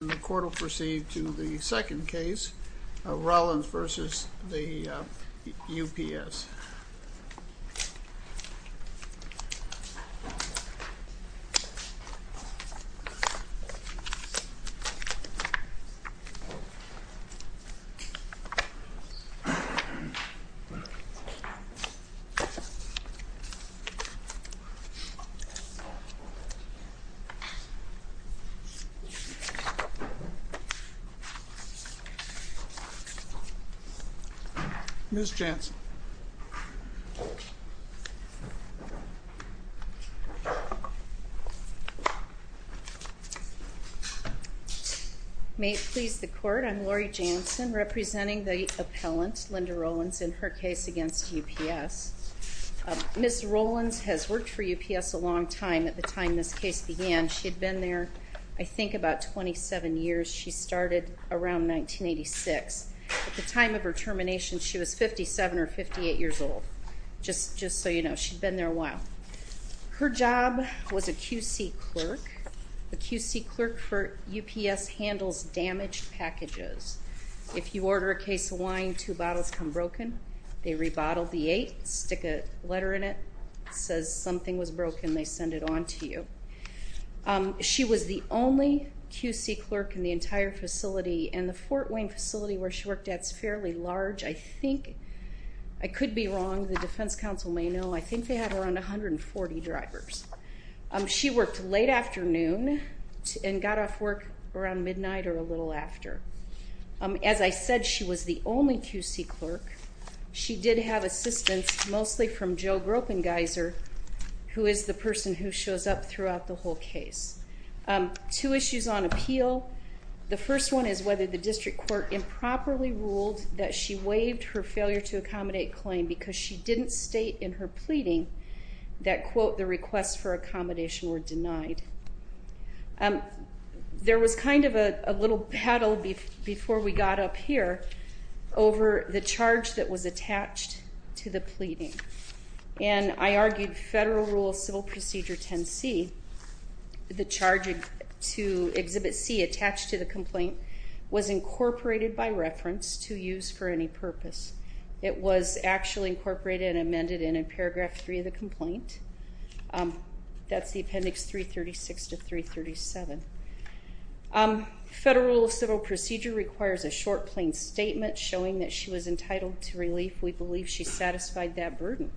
The court will proceed to the second case of Rowlands v. UPS. Ms. Jansen. May it please the court, I'm Laurie Jansen, representing the appellant, Linda Rowlands, in her case against UPS. Ms. Rowlands has worked for UPS a long time. At the time of her termination, she was 57 or 58 years old. Her job was a QC clerk. The QC clerk for UPS handles damaged packages. If you order a case of wine, two bottles come broken. They have to be replaced. She was the only QC clerk in the entire facility, and the Fort Wayne facility where she worked at is fairly large. I think, I could be wrong, the defense counsel may know, I think they had around 140 drivers. She worked late afternoon and got off work around midnight or a little after. As I said, she was the only QC clerk. She did have assistance mostly from Joe Gropengeiser, who is the person who shows up throughout the whole case. Two issues on appeal. The first one is whether the district court improperly ruled that she waived her failure to accommodate claim because she didn't state in her pleading that, quote, the requests for accommodation were denied. There was kind of a little battle before we got up here over the charge that was attached to the pleading. And I argued Federal Rule of Civil Procedure 10C, the charge to Exhibit C attached to the complaint, was incorporated by reference to use for any purpose. It was actually incorporated and amended in in paragraph 3 of the complaint. That's the appendix 336 to 337. Federal Rule of Civil Procedure requires a short, plain statement showing that she was entitled to relief. We believe she satisfied that burden.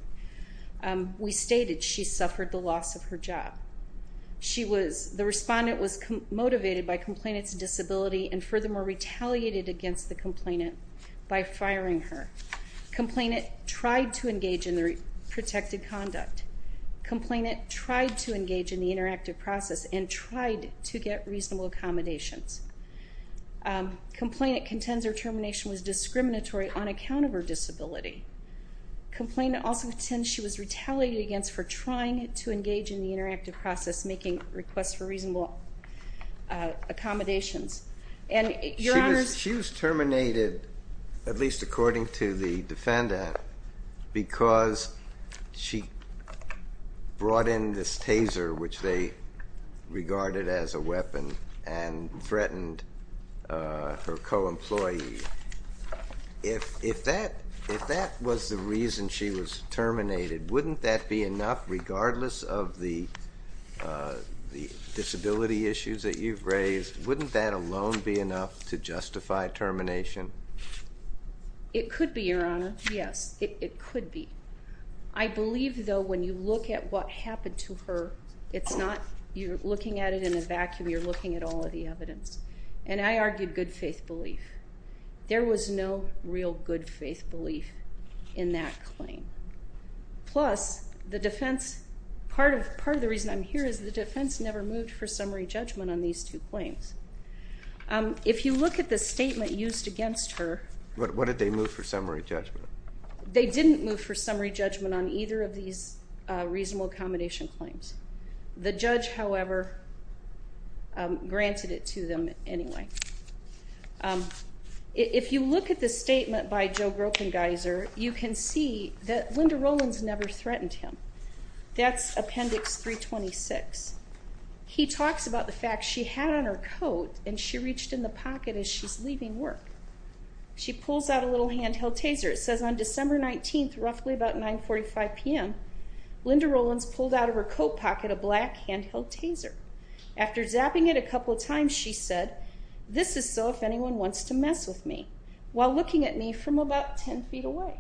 We stated she suffered the loss of her job. She was, the respondent was motivated by complainant's disability and furthermore retaliated against the complainant by firing her. Complainant tried to engage in the protected conduct. Complainant tried to engage in the interactive process. Complainant contends her termination was discriminatory on account of her disability. Complainant also contends she was retaliated against for trying to engage in the interactive process, making requests for reasonable accommodations. And, Your Honors. She was terminated, at least according to the defendant, because she brought in this employee. If, if that, if that was the reason she was terminated, wouldn't that be enough regardless of the, the disability issues that you've raised? Wouldn't that alone be enough to justify termination? It could be, Your Honor. Yes. It, it could be. I believe, though, when you look at what happened to her, it's not, you're looking at it in a vacuum. You're not looking at all of the evidence. And I argued good faith belief. There was no real good faith belief in that claim. Plus, the defense, part of, part of the reason I'm here is the defense never moved for summary judgment on these two claims. If you look at the statement used against her. What, what did they move for summary judgment? They didn't move for summary judgment on either of these reasonable accommodation claims. The judge, however, granted it to them anyway. If you look at the statement by Joe Gropengeiser, you can see that Linda Rollins never threatened him. That's Appendix 326. He talks about the fact she had on her coat and she reached in the pocket as she's leaving work. She pulls out a little handheld taser. It says on December 19th, roughly about 9.45 p.m., Linda Rollins pulled out of her coat pocket, a black handheld taser. After zapping it a couple of times, she said, this is so if anyone wants to mess with me while looking at me from about 10 feet away.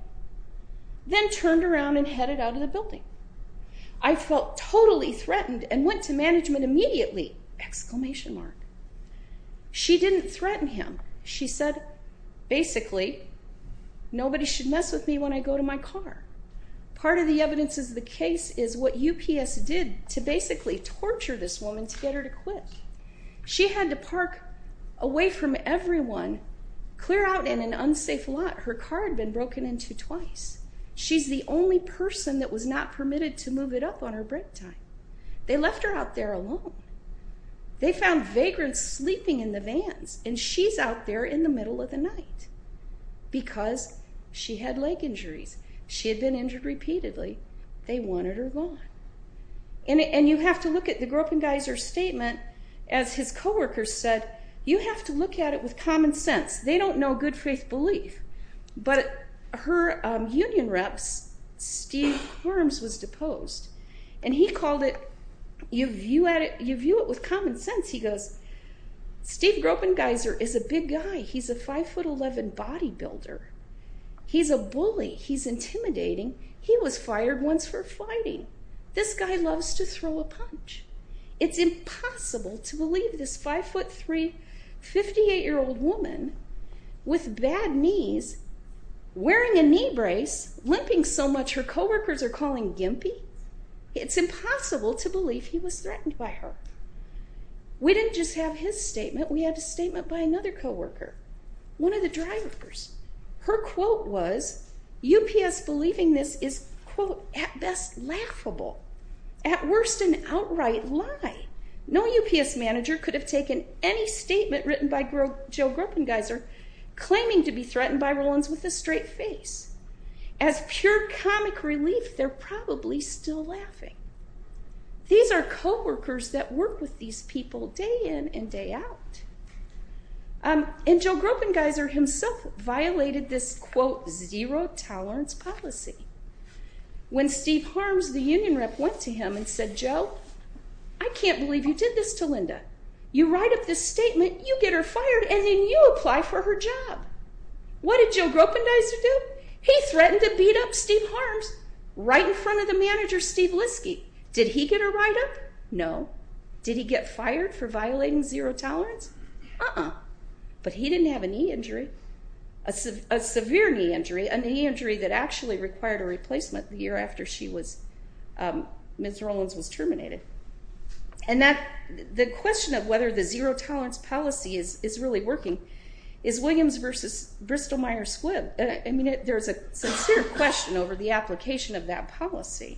Then turned around and headed out of the building. I felt totally threatened and went to management immediately, exclamation mark. She didn't threaten him. She said, basically nobody should mess with me when I go to my car. Part of the evidence is the case is what UPS did to basically torture this woman to get her to quit. She had to park away from everyone, clear out in an unsafe lot. Her car had been broken into twice. She's the only person that was not permitted to move it up on her break time. They left her out there alone. They found vagrants sleeping in the vans and she's out there in the middle of the night because she had leg injuries. She had been injured repeatedly. They wanted her gone. You have to look at the Gropengeiser statement as his co-workers said, you have to look at it with common sense. They don't know good faith belief. Her union reps, Steve Worms was deposed. He called it, you view it with common sense. He goes, Steve Gropengeiser is a big guy. He's a 5'11 body builder. He's a bully. He's intimidating. He was fired once for fighting. This guy loves to throw a punch. It's impossible to believe this 5'3, 58-year-old woman with bad knees, wearing a knee brace, limping so much her co-workers are calling gimpy. It's impossible to believe he was threatened by her. We didn't just have his statement. We had a statement by another co-worker, one of the drivers. Her quote was, UPS believing this is at best laughable, at worst an outright lie. No UPS manager could have taken any statement written by Joe Gropengeiser claiming to be threatened by Rollins with a straight face. As pure comic relief, they're probably still laughing. These are co-workers that work with these people day in and day out. Joe Gropengeiser himself violated this zero tolerance policy. When Steve Harms, the union rep, went to him and said, Joe, I can't believe you did this to Linda. You write up this statement, you get her fired, and then you apply for her job. What did Joe Gropengeiser do? He threatened to beat up Steve Harms right in front of the manager Steve Liske. Did he get her write up? No. Did he get fired for violating zero tolerance? Uh-uh. But he didn't have a knee injury, a severe knee injury, a knee injury that actually required a replacement the year after Ms. Rollins was terminated. The question of whether the zero tolerance policy is really working is Williams versus Bristol-Myers Squibb. There's a sincere question over the application of that policy.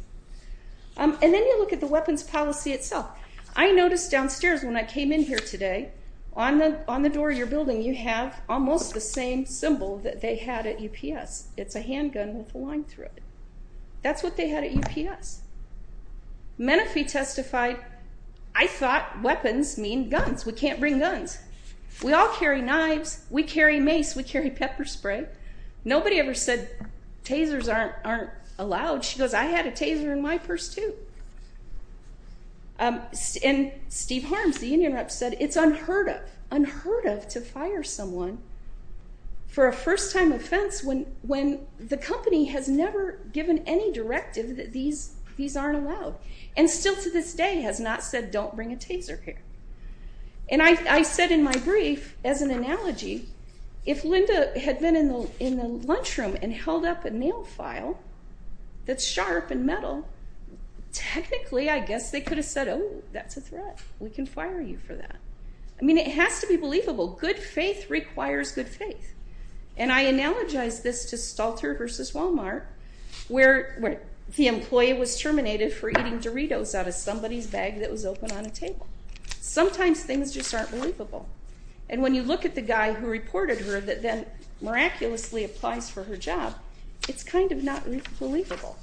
Then you look at the weapons policy itself. I noticed downstairs when I came in here today, on the door of your building you have almost the same symbol that they had at UPS. It's a handgun with a line through it. That's what they had at UPS. Menifee testified, I thought weapons mean guns. We can't bring guns. We all carry knives. We carry mace. We carry pepper spray. Nobody ever said tasers aren't allowed. She goes, I had a taser in my purse too. And Steve Harms, the union rep, said it's unheard of, unheard of to fire someone for a first-time offense when the company has never given any directive that these aren't allowed. And still to this day has not said don't bring a taser here. And I said in my brief, as an analogy, if Linda had been in the lunchroom and held up a nail file that's sharp and metal, technically I guess they could have said, oh, that's a good thing. It's unbelievable. Good faith requires good faith. And I analogize this to Stalter v. Walmart where the employee was terminated for eating Doritos out of somebody's bag that was open on a table. Sometimes things just aren't believable. And when you look at the guy who reported her that then miraculously applies for her job, it's kind of not believable.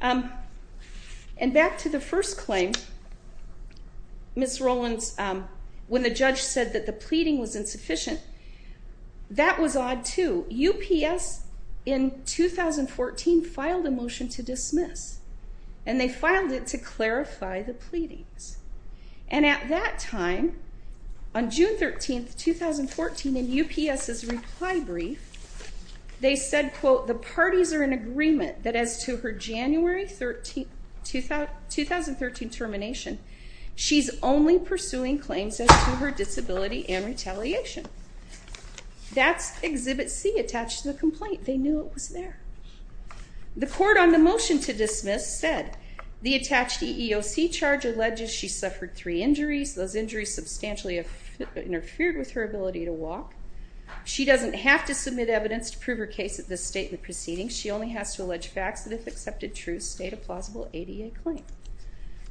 And back to the first claim, Ms. Rowlands, when the judge said that the pleading was insufficient, that was odd too. UPS in 2014 filed a motion to dismiss. And they filed it to clarify the pleadings. And at that time, on June 13, 2014, in UPS's reply brief, they said, quote, the parties are in agreement that as to her January 2013 termination, she's only pursuing claims as to her disability and retaliation. That's Exhibit C attached to the complaint. They knew it was there. The court on the motion to dismiss said the attached EEOC charge alleges she suffered three injuries. Those injuries substantially have interfered with her ability to walk. She doesn't have to submit evidence to prove her case at this statement proceeding. She only has to allege facts that if accepted true state a plausible ADA claim.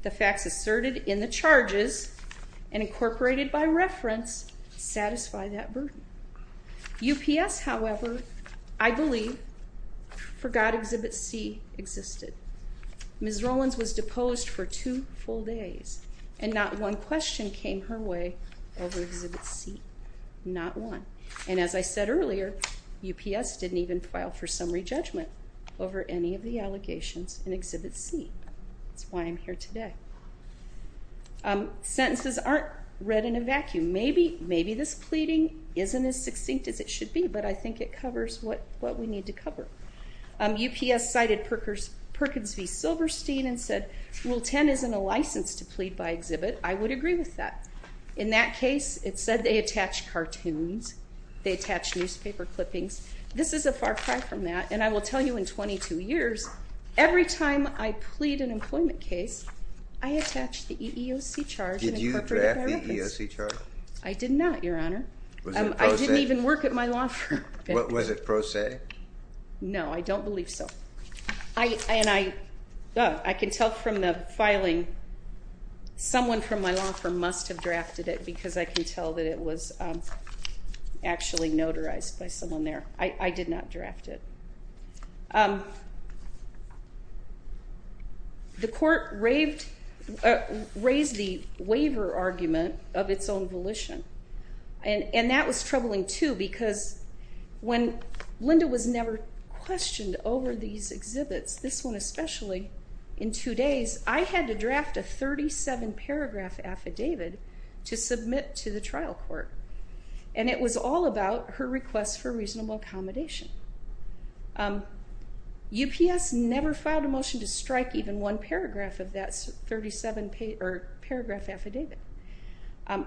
The facts asserted in the charges and incorporated by reference satisfy that burden. UPS, however, I believe forgot Exhibit C existed. Ms. Rowlands was deposed for two full days. And not one question came her way over Exhibit C. Not one. And as I said earlier, UPS didn't even file for summary judgment over any of the allegations in Exhibit C. That's why I'm here today. Sentences aren't read in a vacuum. Maybe this pleading isn't as succinct as it should be, but I think it covers what we need to cover. UPS cited Perkins v. Silverstein and said, Rule 10 isn't a license to plead by Exhibit. I would agree with that. In that case, it said they attached cartoons. They attached newspaper clippings. This is a far cry from that. And I will tell you in 22 years, every time I plead an employment case, I attach the EEOC charge and incorporated by reference. Did you draft the EEOC charge? I did not, Your Honor. Was it pro se? I didn't even work at my law firm. Was it pro se? No, I don't believe so. And I can tell from the filing someone from my law firm must have drafted it because I can tell that it was actually notarized by someone there. I did not draft it. The court raised the waiver argument of its own volition. And that was troubling, too, because when Linda was never questioned over these exhibits, this one especially, in two days, I had to draft a 37-paragraph affidavit to submit to the trial court. And it was all about her request for reasonable accommodation. UPS never filed a motion to strike even one paragraph of that paragraph affidavit.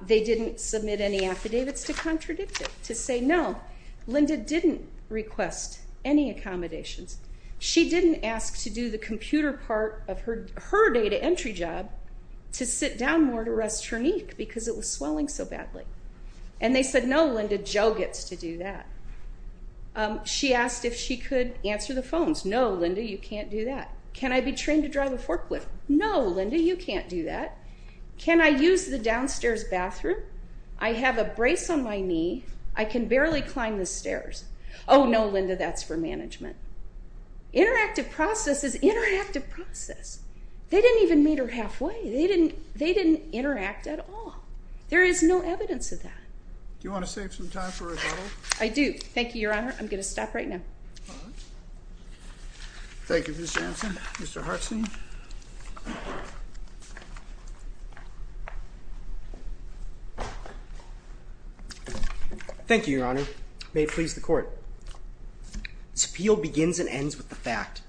They didn't submit any affidavits to contradict it, to say, No, Linda didn't request any accommodations. She didn't ask to do the computer part of her data entry job to sit down more to rest her knee because it was swelling so badly. And they said, No, Linda, Joe gets to do that. She asked if she could answer the phones. No, Linda, you can't do that. Can I be trained to drive a forklift? No, Linda, you can't do that. Can I use the phone? No, Linda, that's for management. Interactive process is interactive process. They didn't even meet her halfway. They didn't interact at all. There is no evidence of that. Do you want to save some time for rebuttal? I do. Thank you, Your Honor. I'm going to stop right now. Thank you, Ms. Jansen. Mr. Hartstein? Thank you, Your Honor. May it please the court. This appeal begins and ends with the fact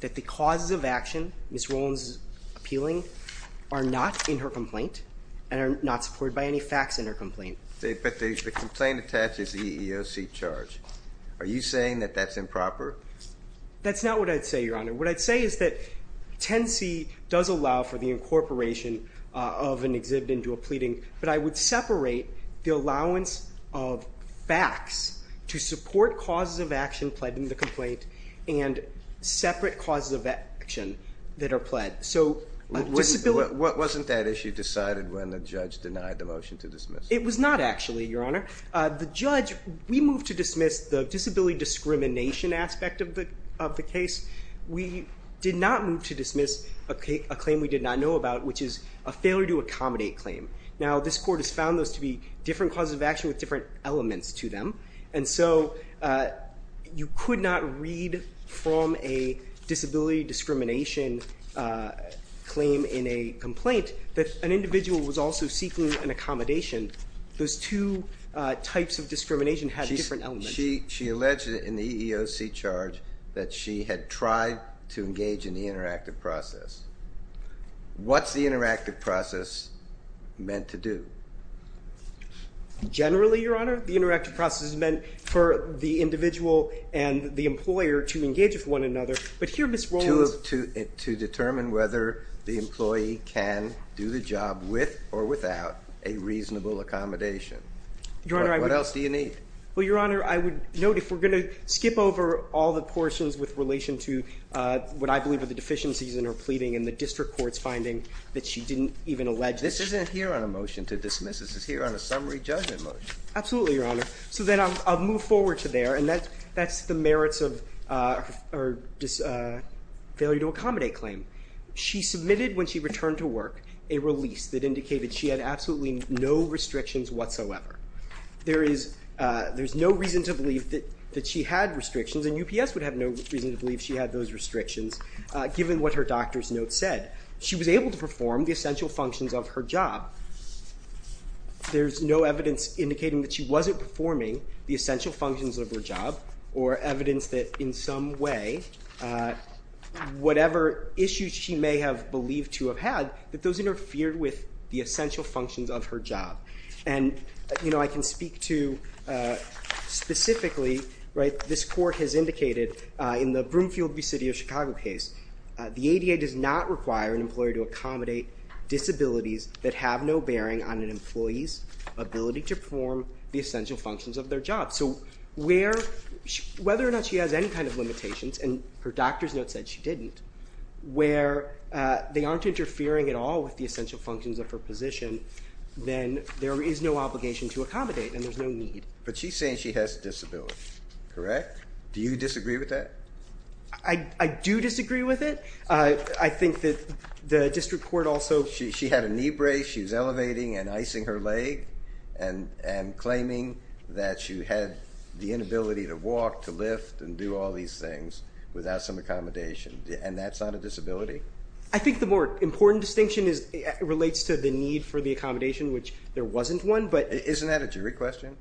that the causes of action Ms. Rollins is appealing are not in her complaint and are not supported by any facts in her complaint. But the complaint attaches the EEOC charge. Are you saying that that's improper? That's not what I'd say, Your Honor. What I'd say is that 10C does allow for the incorporation of an exhibit into a complaint and separate causes of action that are pled. Wasn't that issue decided when the judge denied the motion to dismiss? It was not actually, Your Honor. The judge, we moved to dismiss the disability discrimination aspect of the case. We did not move to dismiss a claim we did not know about, which is a failure to accommodate claim. Now this court has found those to be different causes of action with different elements to them. And so you could not read from a disability discrimination claim in a complaint that an individual was also seeking an accommodation. Those two types of discrimination have different elements. She alleged in the EEOC charge that she had tried to engage in the interactive process. What's the interactive process meant to do? Generally, Your Honor, the interactive process is meant for the individual and the employer to engage with one another. But here Ms. Rollins To determine whether the employee can do the job with or without a reasonable accommodation. Your Honor, I would What else do you need? Well, Your Honor, I would note if we're going to skip over all the portions with relation to what I believe are the deficiencies in what we're pleading and the district court's finding that she didn't even allege. This isn't here on a motion to dismiss. This is here on a summary judgment motion. Absolutely, Your Honor. So then I'll move forward to there. And that's the merits of failure to accommodate claim. She submitted when she returned to work a release that indicated she had absolutely no restrictions whatsoever. There is no reason to believe that she had restrictions and UPS would have no reason to believe she had those restrictions given what her doctor's note said. She was able to perform the essential functions of her job. There's no evidence indicating that she wasn't performing the essential functions of her job or evidence that in some way, whatever issues she may have believed to have had, that those interfered with the essential functions of her job. And, you know, I can speak to specifically, right, this court has indicated in the Broomfield v. City of Chicago case, the ADA does not require an employer to accommodate disabilities that have no bearing on an employee's ability to perform the essential functions of their job. So whether or not she has any kind of limitations, and her doctor's note said she didn't, where they aren't interfering at all with the essential functions of her position, then there is no obligation to accommodate and there's no need. But she's saying she has a disability, correct? Do you disagree with that? I do disagree with it. I think that the district court also... She had a knee brace, she was elevating and icing her leg and claiming that she had the inability to walk, to lift and do all these things without some accommodation, and that's not a disability? I think the more important distinction relates to the need for the accommodation, which there isn't at a jury question.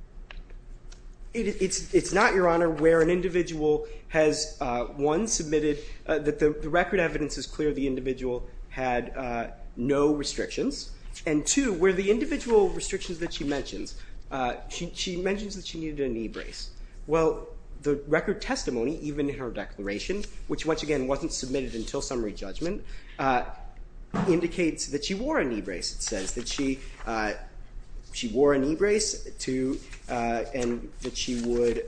It's not, Your Honor, where an individual has, one, submitted that the record evidence is clear the individual had no restrictions, and two, where the individual restrictions that she mentions, she mentions that she needed a knee brace. Well, the record testimony, even her declaration, which once again wasn't submitted until summary judgment, indicates that she wore a knee brace, it says, that she wore a knee brace and that she would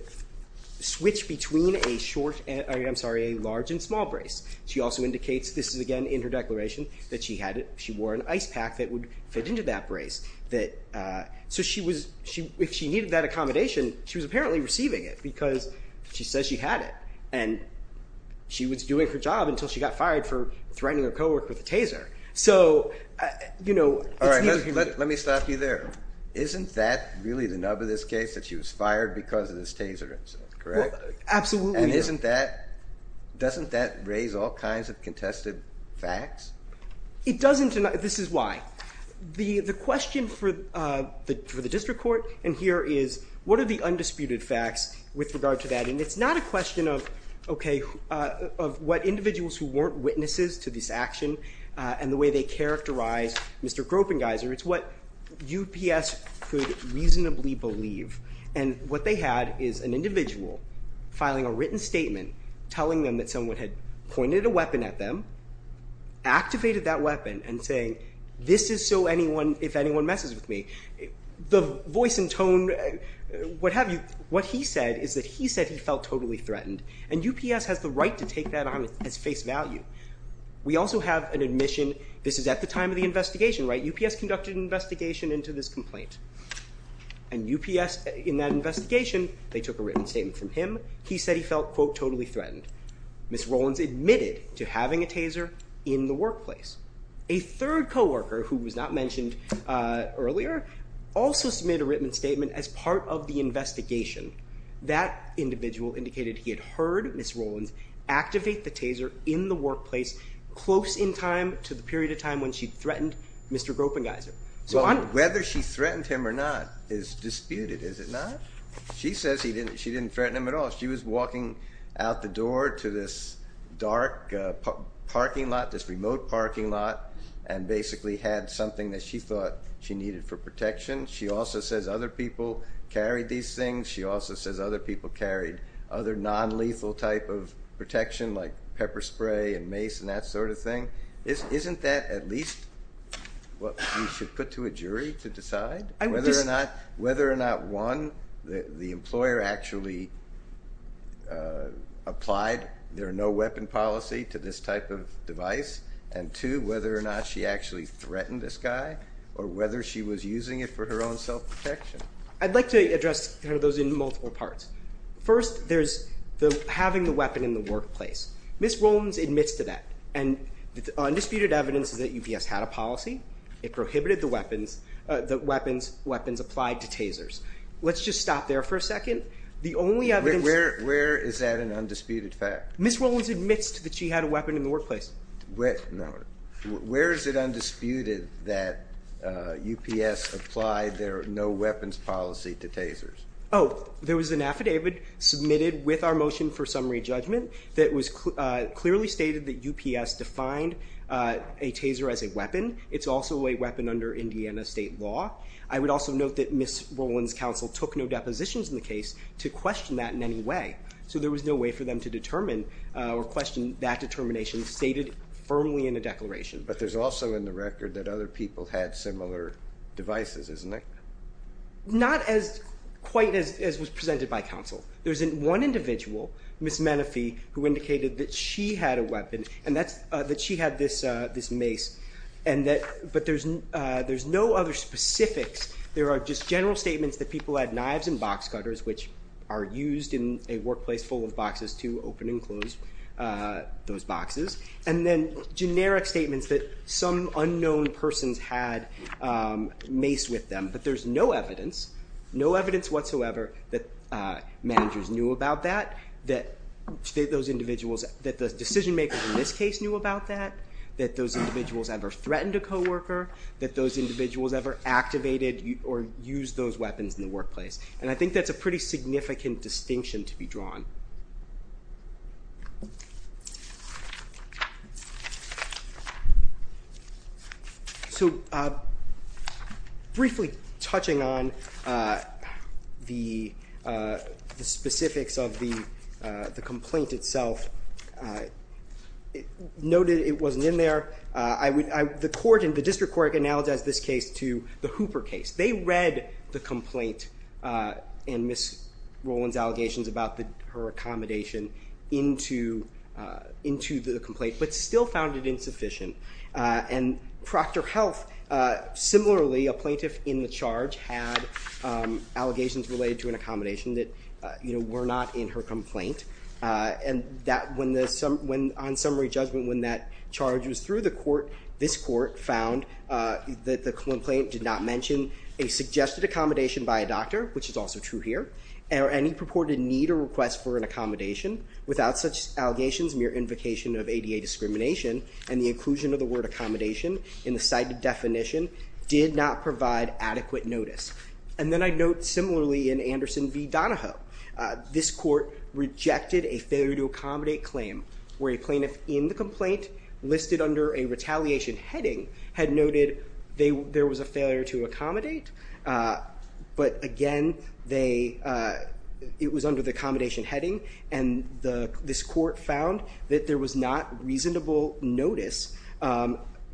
switch between a short, I'm sorry, a large and small brace. She also indicates, this is again in her declaration, that she had it, she wore an ice pack that would fit into that brace. So she was, if she needed that accommodation, she was apparently receiving it because she says she had it, and she was doing her job until she got fired for threatening her co-worker with a taser. So, you know... All right, let me stop you there. Isn't that really the nub of this case, that she was fired because of this taser incident, correct? Absolutely. And isn't that, doesn't that raise all kinds of contested facts? It doesn't, and this is why. The question for the District Court and here is, what are the undisputed facts with regard to that? And it's not a question of, okay, of what individuals who weren't witnesses to this action and the way they characterize Mr. Gropengeiser, it's what UPS could reasonably believe. And what they had is an individual filing a written statement telling them that someone had pointed a weapon at them, activated that weapon, and saying, this is so anyone, if anyone messes with me, the voice and tone, what have you, what he said is that he said he felt totally threatened, and UPS has the right to take that on as face value. We also have an admission, this is at the time of the investigation, right? UPS conducted an investigation into this complaint, and UPS, in that investigation, they took a written statement from him. He said he felt, quote, totally threatened. Ms. Rollins admitted to having a taser in the workplace. A third co-worker, who was not mentioned earlier, also submitted a written statement as part of the investigation. That individual indicated he had heard Ms. Rollins activate the taser in the workplace close in time to the period of time when she threatened Mr. Gropengeiser. So whether she threatened him or not is disputed, is it not? She says she didn't out the door to this dark parking lot, this remote parking lot, and basically had something that she thought she needed for protection. She also says other people carried these things. She also says other people carried other non-lethal type of protection, like pepper spray and mace and that sort of thing. Isn't that at least what we should put to a jury to decide whether or not, whether or not, one, the employer actually applied their no-weapon policy to this type of device, and two, whether or not she actually threatened this guy, or whether she was using it for her own self-protection? I'd like to address those in multiple parts. First, there's the having the weapon in the workplace. Ms. Rollins admits to that, and the undisputed evidence is that UPS had a policy. It prohibited the weapons, the weapons, weapons applied to tasers. Let's just stop there for a second. Where is that an undisputed fact? Ms. Rollins admits that she had a weapon in the workplace. Where is it undisputed that UPS applied their no-weapons policy to tasers? Oh, there was an affidavit submitted with our motion for summary judgment that clearly stated that UPS defined a taser as a weapon, and that Ms. Rollins' counsel took no depositions in the case to question that in any way. So there was no way for them to determine or question that determination stated firmly in the declaration. But there's also in the record that other people had similar devices, isn't there? Not as quite as was presented by counsel. There's one individual, Ms. Menefee, who general statements that people had knives and box cutters, which are used in a workplace full of boxes to open and close those boxes, and then generic statements that some unknown persons had mace with them. But there's no evidence, no evidence whatsoever that managers knew about that, that those individuals, that the decision makers in this case knew about that, that those individuals ever threatened a co-worker, that those individuals ever activated or used those weapons in the workplace. And I think that's a pretty significant distinction to be drawn. So briefly touching on the specifics of the complaint itself, noted it wasn't in there. The court and the district court analogized this case to the Hooper case. They read the complaint and Ms. Rollins' allegations about her accommodation into the complaint, but still found it insufficient. And Proctor Health, similarly, a plaintiff in the charge had allegations related to an This court found that the complaint did not mention a suggested accommodation by a doctor, which is also true here, or any purported need or request for an accommodation. Without such allegations, mere invocation of ADA discrimination and the inclusion of the word accommodation in the cited definition did not provide adequate notice. And then I'd note similarly in Anderson v. Donahoe, this court rejected a failure to accommodate claim where a plaintiff in the retaliation heading had noted there was a failure to accommodate. But again, it was under the accommodation heading, and this court found that there was not reasonable notice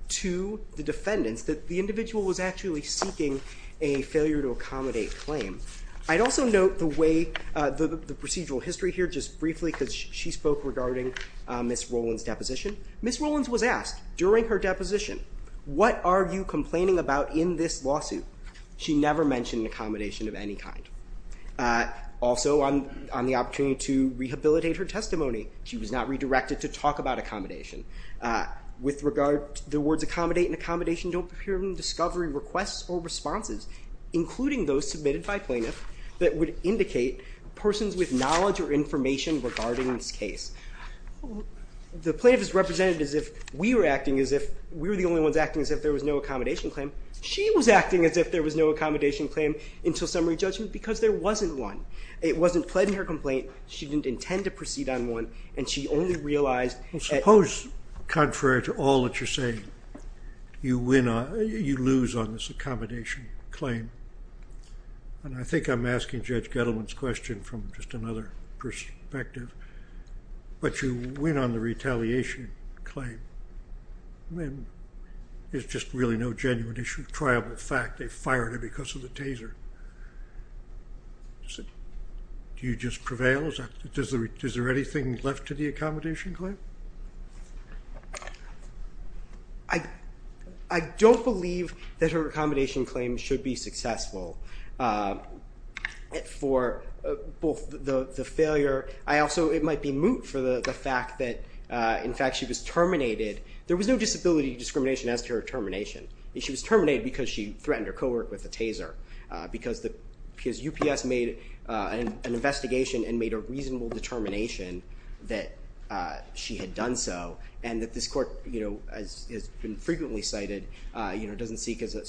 to the defendants that the individual was actually seeking a failure to accommodate claim. I'd also note the procedural history here just briefly, because she spoke regarding Ms. Rollins' deposition. Ms. Rollins was asked during her deposition, what are you complaining about in this lawsuit? She never mentioned an accommodation of any kind. Also, on the opportunity to rehabilitate her testimony, she was not redirected to talk about accommodation. With regard to the words accommodate and accommodation don't appear in the discovery requests or responses, including those submitted by information regarding this case. The plaintiff is represented as if we were acting as if we were the only ones acting as if there was no accommodation claim. She was acting as if there was no accommodation claim until summary judgment, because there wasn't one. It wasn't pled in her complaint. She didn't intend to proceed on one, and she only realized that- But you win on the retaliation claim. I mean, it's just really no genuine issue. Triable fact, they fired her because of the taser. Do you just prevail? Is there anything left to the accommodation claim? I don't believe that her accommodation claim should be successful for both the failure. I also, it might be moot for the fact that, in fact, she was terminated. There was no disability discrimination as to her termination. She was terminated because she threatened her co-worker with a taser, because UPS made an determination that she had done so, and that this court, as has been frequently cited, doesn't seek as a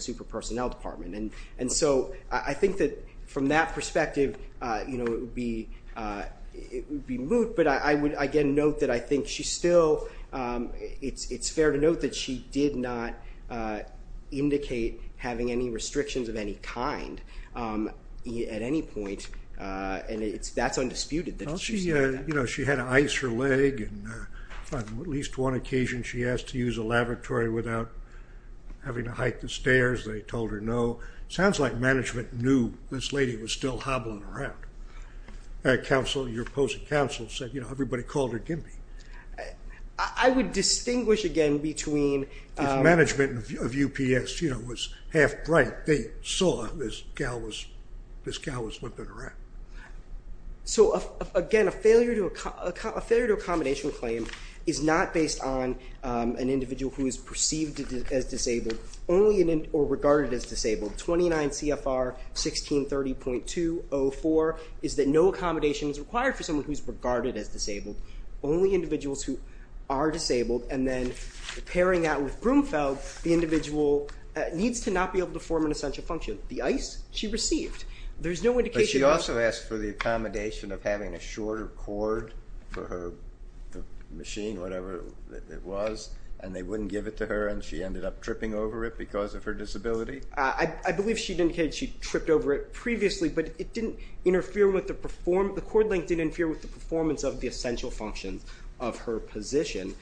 super personnel department. And so I think that from that perspective, it would be moot, but I would again note that I think she still, it's fair to note that she did not indicate having any restrictions of any kind at any point, and that's undisputed. She had to ice her leg, and on at least one occasion, she asked to use a lavatory without having to hike the stairs. They told her no. Sounds like management knew this lady was still hobbling around. Your opposing counsel said, you know, everybody called her Gimby. I would distinguish again between- If management of UPS, you know, was half bright, they saw this gal was flipping around. So again, a failure to accommodation claim is not based on an individual who is perceived as disabled, or regarded as disabled. 29 CFR 1630.204 is that no accommodation is required for someone who is regarded as disabled. Only individuals who are disabled, and then pairing that with Brumfeld, the individual needs to not be able to form an essential function. The ice, she received. But she also asked for the accommodation of having a shorter cord for her machine, whatever it was, and they wouldn't give it to her, and she ended up tripping over it because of her disability? I believe she indicated she tripped over it previously, but it didn't interfere with the performance- the cord length didn't interfere with the performance of the essential functions of her position.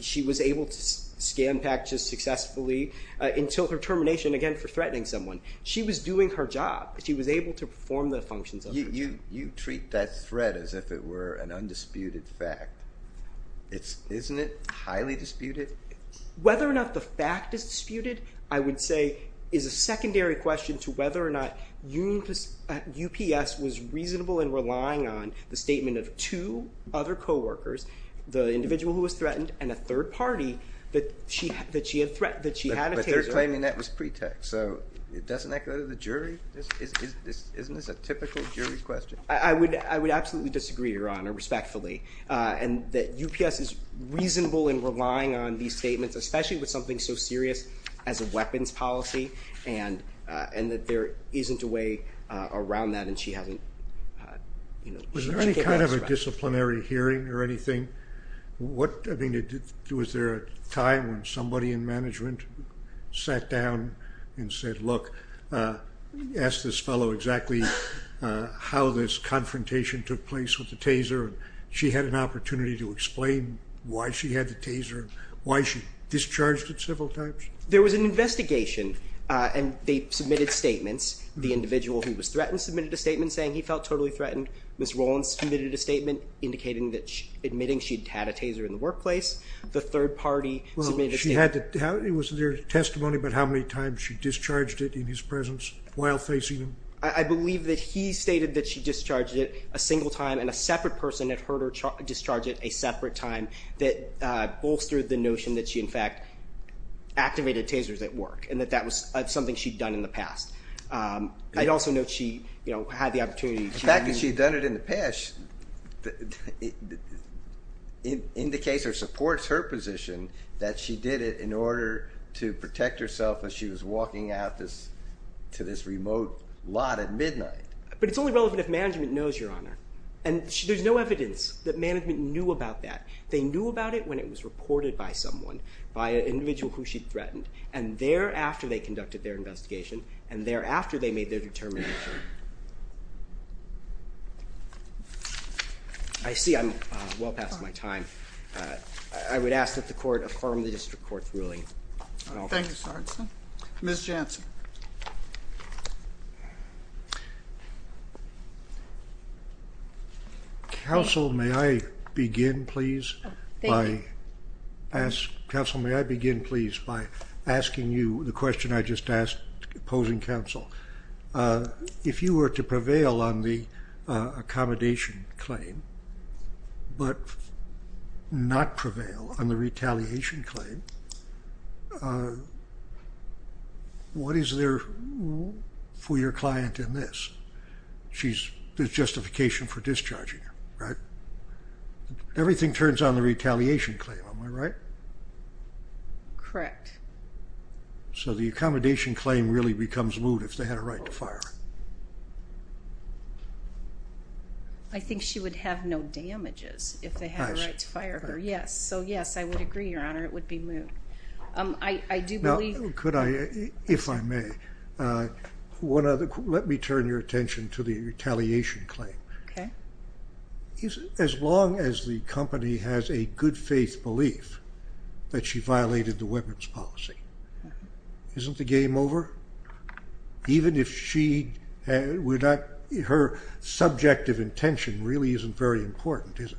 She was able to scan packages successfully until her termination, again, for threatening someone. She was doing her job. She was able to perform the functions of her job. You treat that threat as if it were an undisputed fact. Isn't it highly disputed? Whether or not the fact is disputed, I would say, is a secondary question to whether or not UPS was reasonable in relying on the statement of two other co-workers, the individual who was threatened, and a third party that she had a- But they're claiming that was pretext, so it doesn't echo to the jury? Isn't this a typical jury question? I would absolutely disagree, Your Honor, respectfully, and that UPS is reasonable in relying on these statements, especially with something so serious as a weapons policy, and that there isn't a way around that, and she hasn't, you know- Was there any kind of a disciplinary hearing or anything? What- I mean, was there a time when somebody in management sat down and said, look, ask this fellow exactly how this confrontation took place with the taser, and she had an opportunity to explain why she had the taser, why she discharged it several times? There was an investigation, and they submitted statements. The individual who was threatened submitted a statement saying he felt totally threatened. Ms. Rollins submitted a statement indicating that she- admitting she'd had a taser in the workplace. The third party submitted a statement- Well, she had to- How- It was their testimony about how many times she discharged it in his presence while facing him? I believe that he stated that she discharged it a single time, and a separate person had heard her discharge it a separate time that bolstered the notion that she, in fact, activated tasers at work, and that that was something she'd done in the past. I'd also note she, you know, had the opportunity to- It indicates or supports her position that she did it in order to protect herself as she was walking out this- to this remote lot at midnight. But it's only relevant if management knows, Your Honor, and there's no evidence that management knew about that. They knew about it when it was reported by someone, by an individual who she'd threatened, and thereafter they conducted their investigation, and thereafter they made their determination. I see I'm well past my time. I would ask that the Court affirm the District Court's ruling. Thank you, Sergeant. Ms. Jansen. Counsel, may I begin, please, by asking- Counsel, may I begin, please, by asking you the question I just asked, posing counsel. If you were to prevail on the accommodation claim, but not prevail on the retaliation claim, what is it that you would like to see done in order to prevent that from happening? Is there, for your client in this, she's- there's justification for discharging her, right? Everything turns on the retaliation claim, am I right? Correct. So the accommodation claim really becomes moot if they had a right to fire her? I think she would have no damages if they had a right to fire her, yes. So yes, I would agree, Your Honor, it would be moot. I do believe- Could I, if I may, one other- let me turn your attention to the retaliation claim. Okay. As long as the company has a good faith belief that she violated the weapons policy, isn't the game over? Even if she- her subjective intention really isn't very important, is it?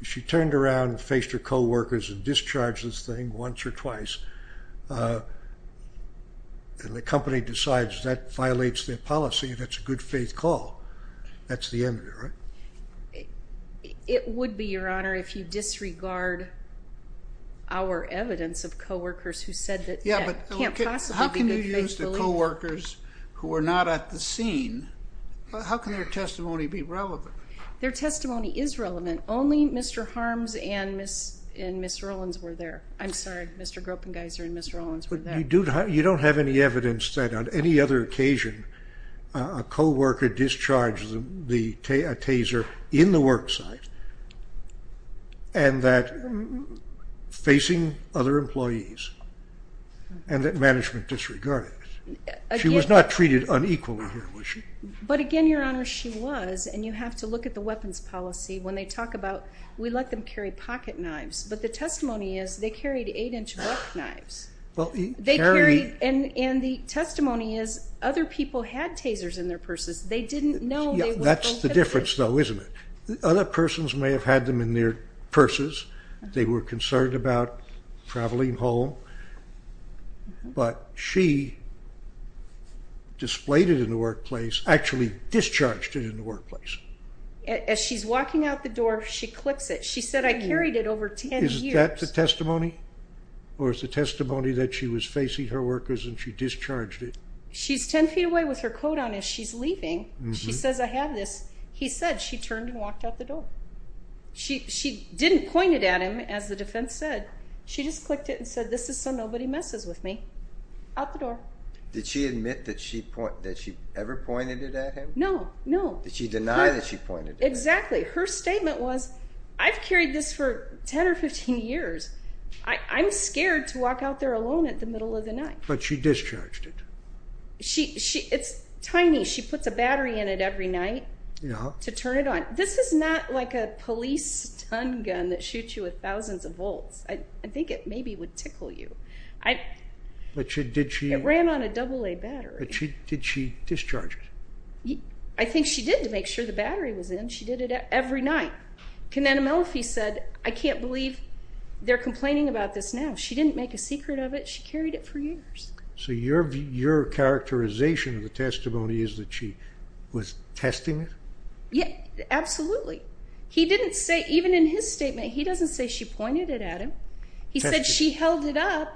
If she turned around and faced her co-workers and discharged this thing once or twice, and the company decides that violates their policy, that's a good faith call. That's the end of it, right? It would be, Your Honor, if you disregard our evidence of co-workers who said that, yeah, it can't possibly be good faith belief. Yeah, but how can you use the co-workers who are not at the scene? How can their testimony be relevant? Their testimony is relevant. Only Mr. Harms and Ms. Rollins were there. I'm sorry, Mr. Gropengeiser and Ms. Rollins were there. But you don't have any evidence that on any other occasion a co-worker discharged a taser in the work site, and that facing other employees, and that management disregarded it. She was not treated unequally here, was she? But again, Your Honor, she was, and you have to look at the weapons policy. When they talk about, we let them carry pocket knives, but the testimony is they carried 8-inch buck knives. They carried- and the testimony is other people had tasers in their purses. They didn't know they were prohibited. That's the difference, though, isn't it? Other persons may have had them in their purses. They were concerned about traveling home, but she displayed it in the workplace, actually discharged it in the workplace. As she's walking out the door, she clicks it. She said, I carried it over 10 years. Is that the testimony, or is the testimony that she was facing her workers and she discharged it? She's 10 feet away with her coat on as she's leaving. She says, I have this. He said, she turned and walked out the door. She didn't point it at him, as the defense said. She just clicked it and said, this is so nobody messes with me. Out the door. Did she admit that she ever pointed it at him? No, no. Did she deny that she pointed it at him? Exactly. Her statement was, I've carried this for 10 or 15 years. I'm scared to walk out there alone at the middle of the night. But she discharged it. It's tiny. She puts a battery in it every night to turn it on. This is not like a police stun gun that shoots you with thousands of volts. I think it maybe would tickle you. It ran on a AA battery. Did she discharge it? I think she did to make sure the battery was in. She did it every night. Kenetha Melfi said, I can't believe they're complaining about this now. She didn't make a secret of it. She carried it for years. So your characterization of the testimony is that she was testing it? Absolutely. He didn't say, even in his statement, he doesn't say she pointed it at him. He said she held it up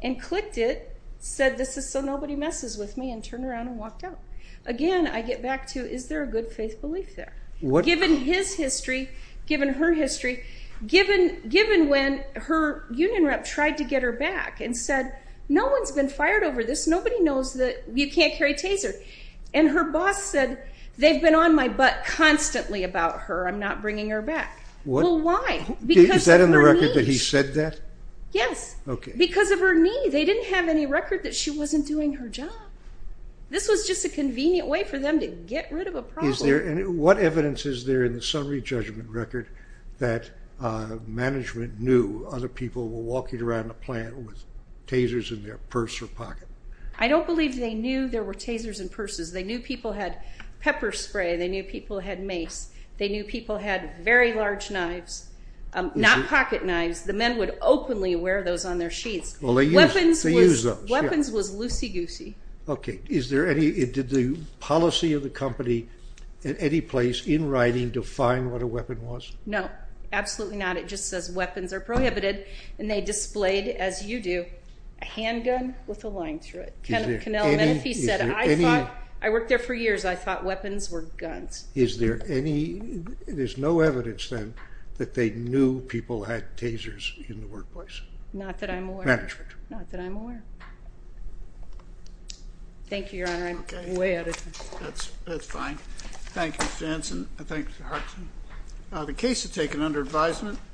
and clicked it, said this is so nobody messes with me, and turned around and walked out. Again, I get back to, is there a good faith belief there? Given his history, given her history, given when her union rep tried to get her back and said, no one's been fired over this. Nobody knows that you can't carry Taser. And her boss said, they've been on my butt constantly about her. I'm not bringing her back. Well, why? Is that in the record that he said that? Yes. Because of her knee. They didn't have any record that she wasn't doing her job. This was just a convenient way for them to get rid of a problem. What evidence is there in the summary judgment record that management knew other people were walking around the plant with Tasers in their purse or pocket? I don't believe they knew there were Tasers in purses. They knew people had pepper spray. They knew people had mace. They knew people had very large knives. Not pocket knives. The men would openly wear those on their sheets. They used those. Weapons was loosey-goosey. Did the policy of the company at any place in writing define what a weapon was? No. Absolutely not. It just says weapons are prohibited. And they displayed, as you do, a handgun with a line through it. Kenneth Cannell said, I worked there for years. I thought weapons were guns. Is there any, there's no evidence then that they knew people had Tasers in the workplace? Not that I'm aware. Thank you, Your Honor. I'm way out of time. That's fine. Thank you, Jensen. Thank you, Hartson. The case is taken under advisement.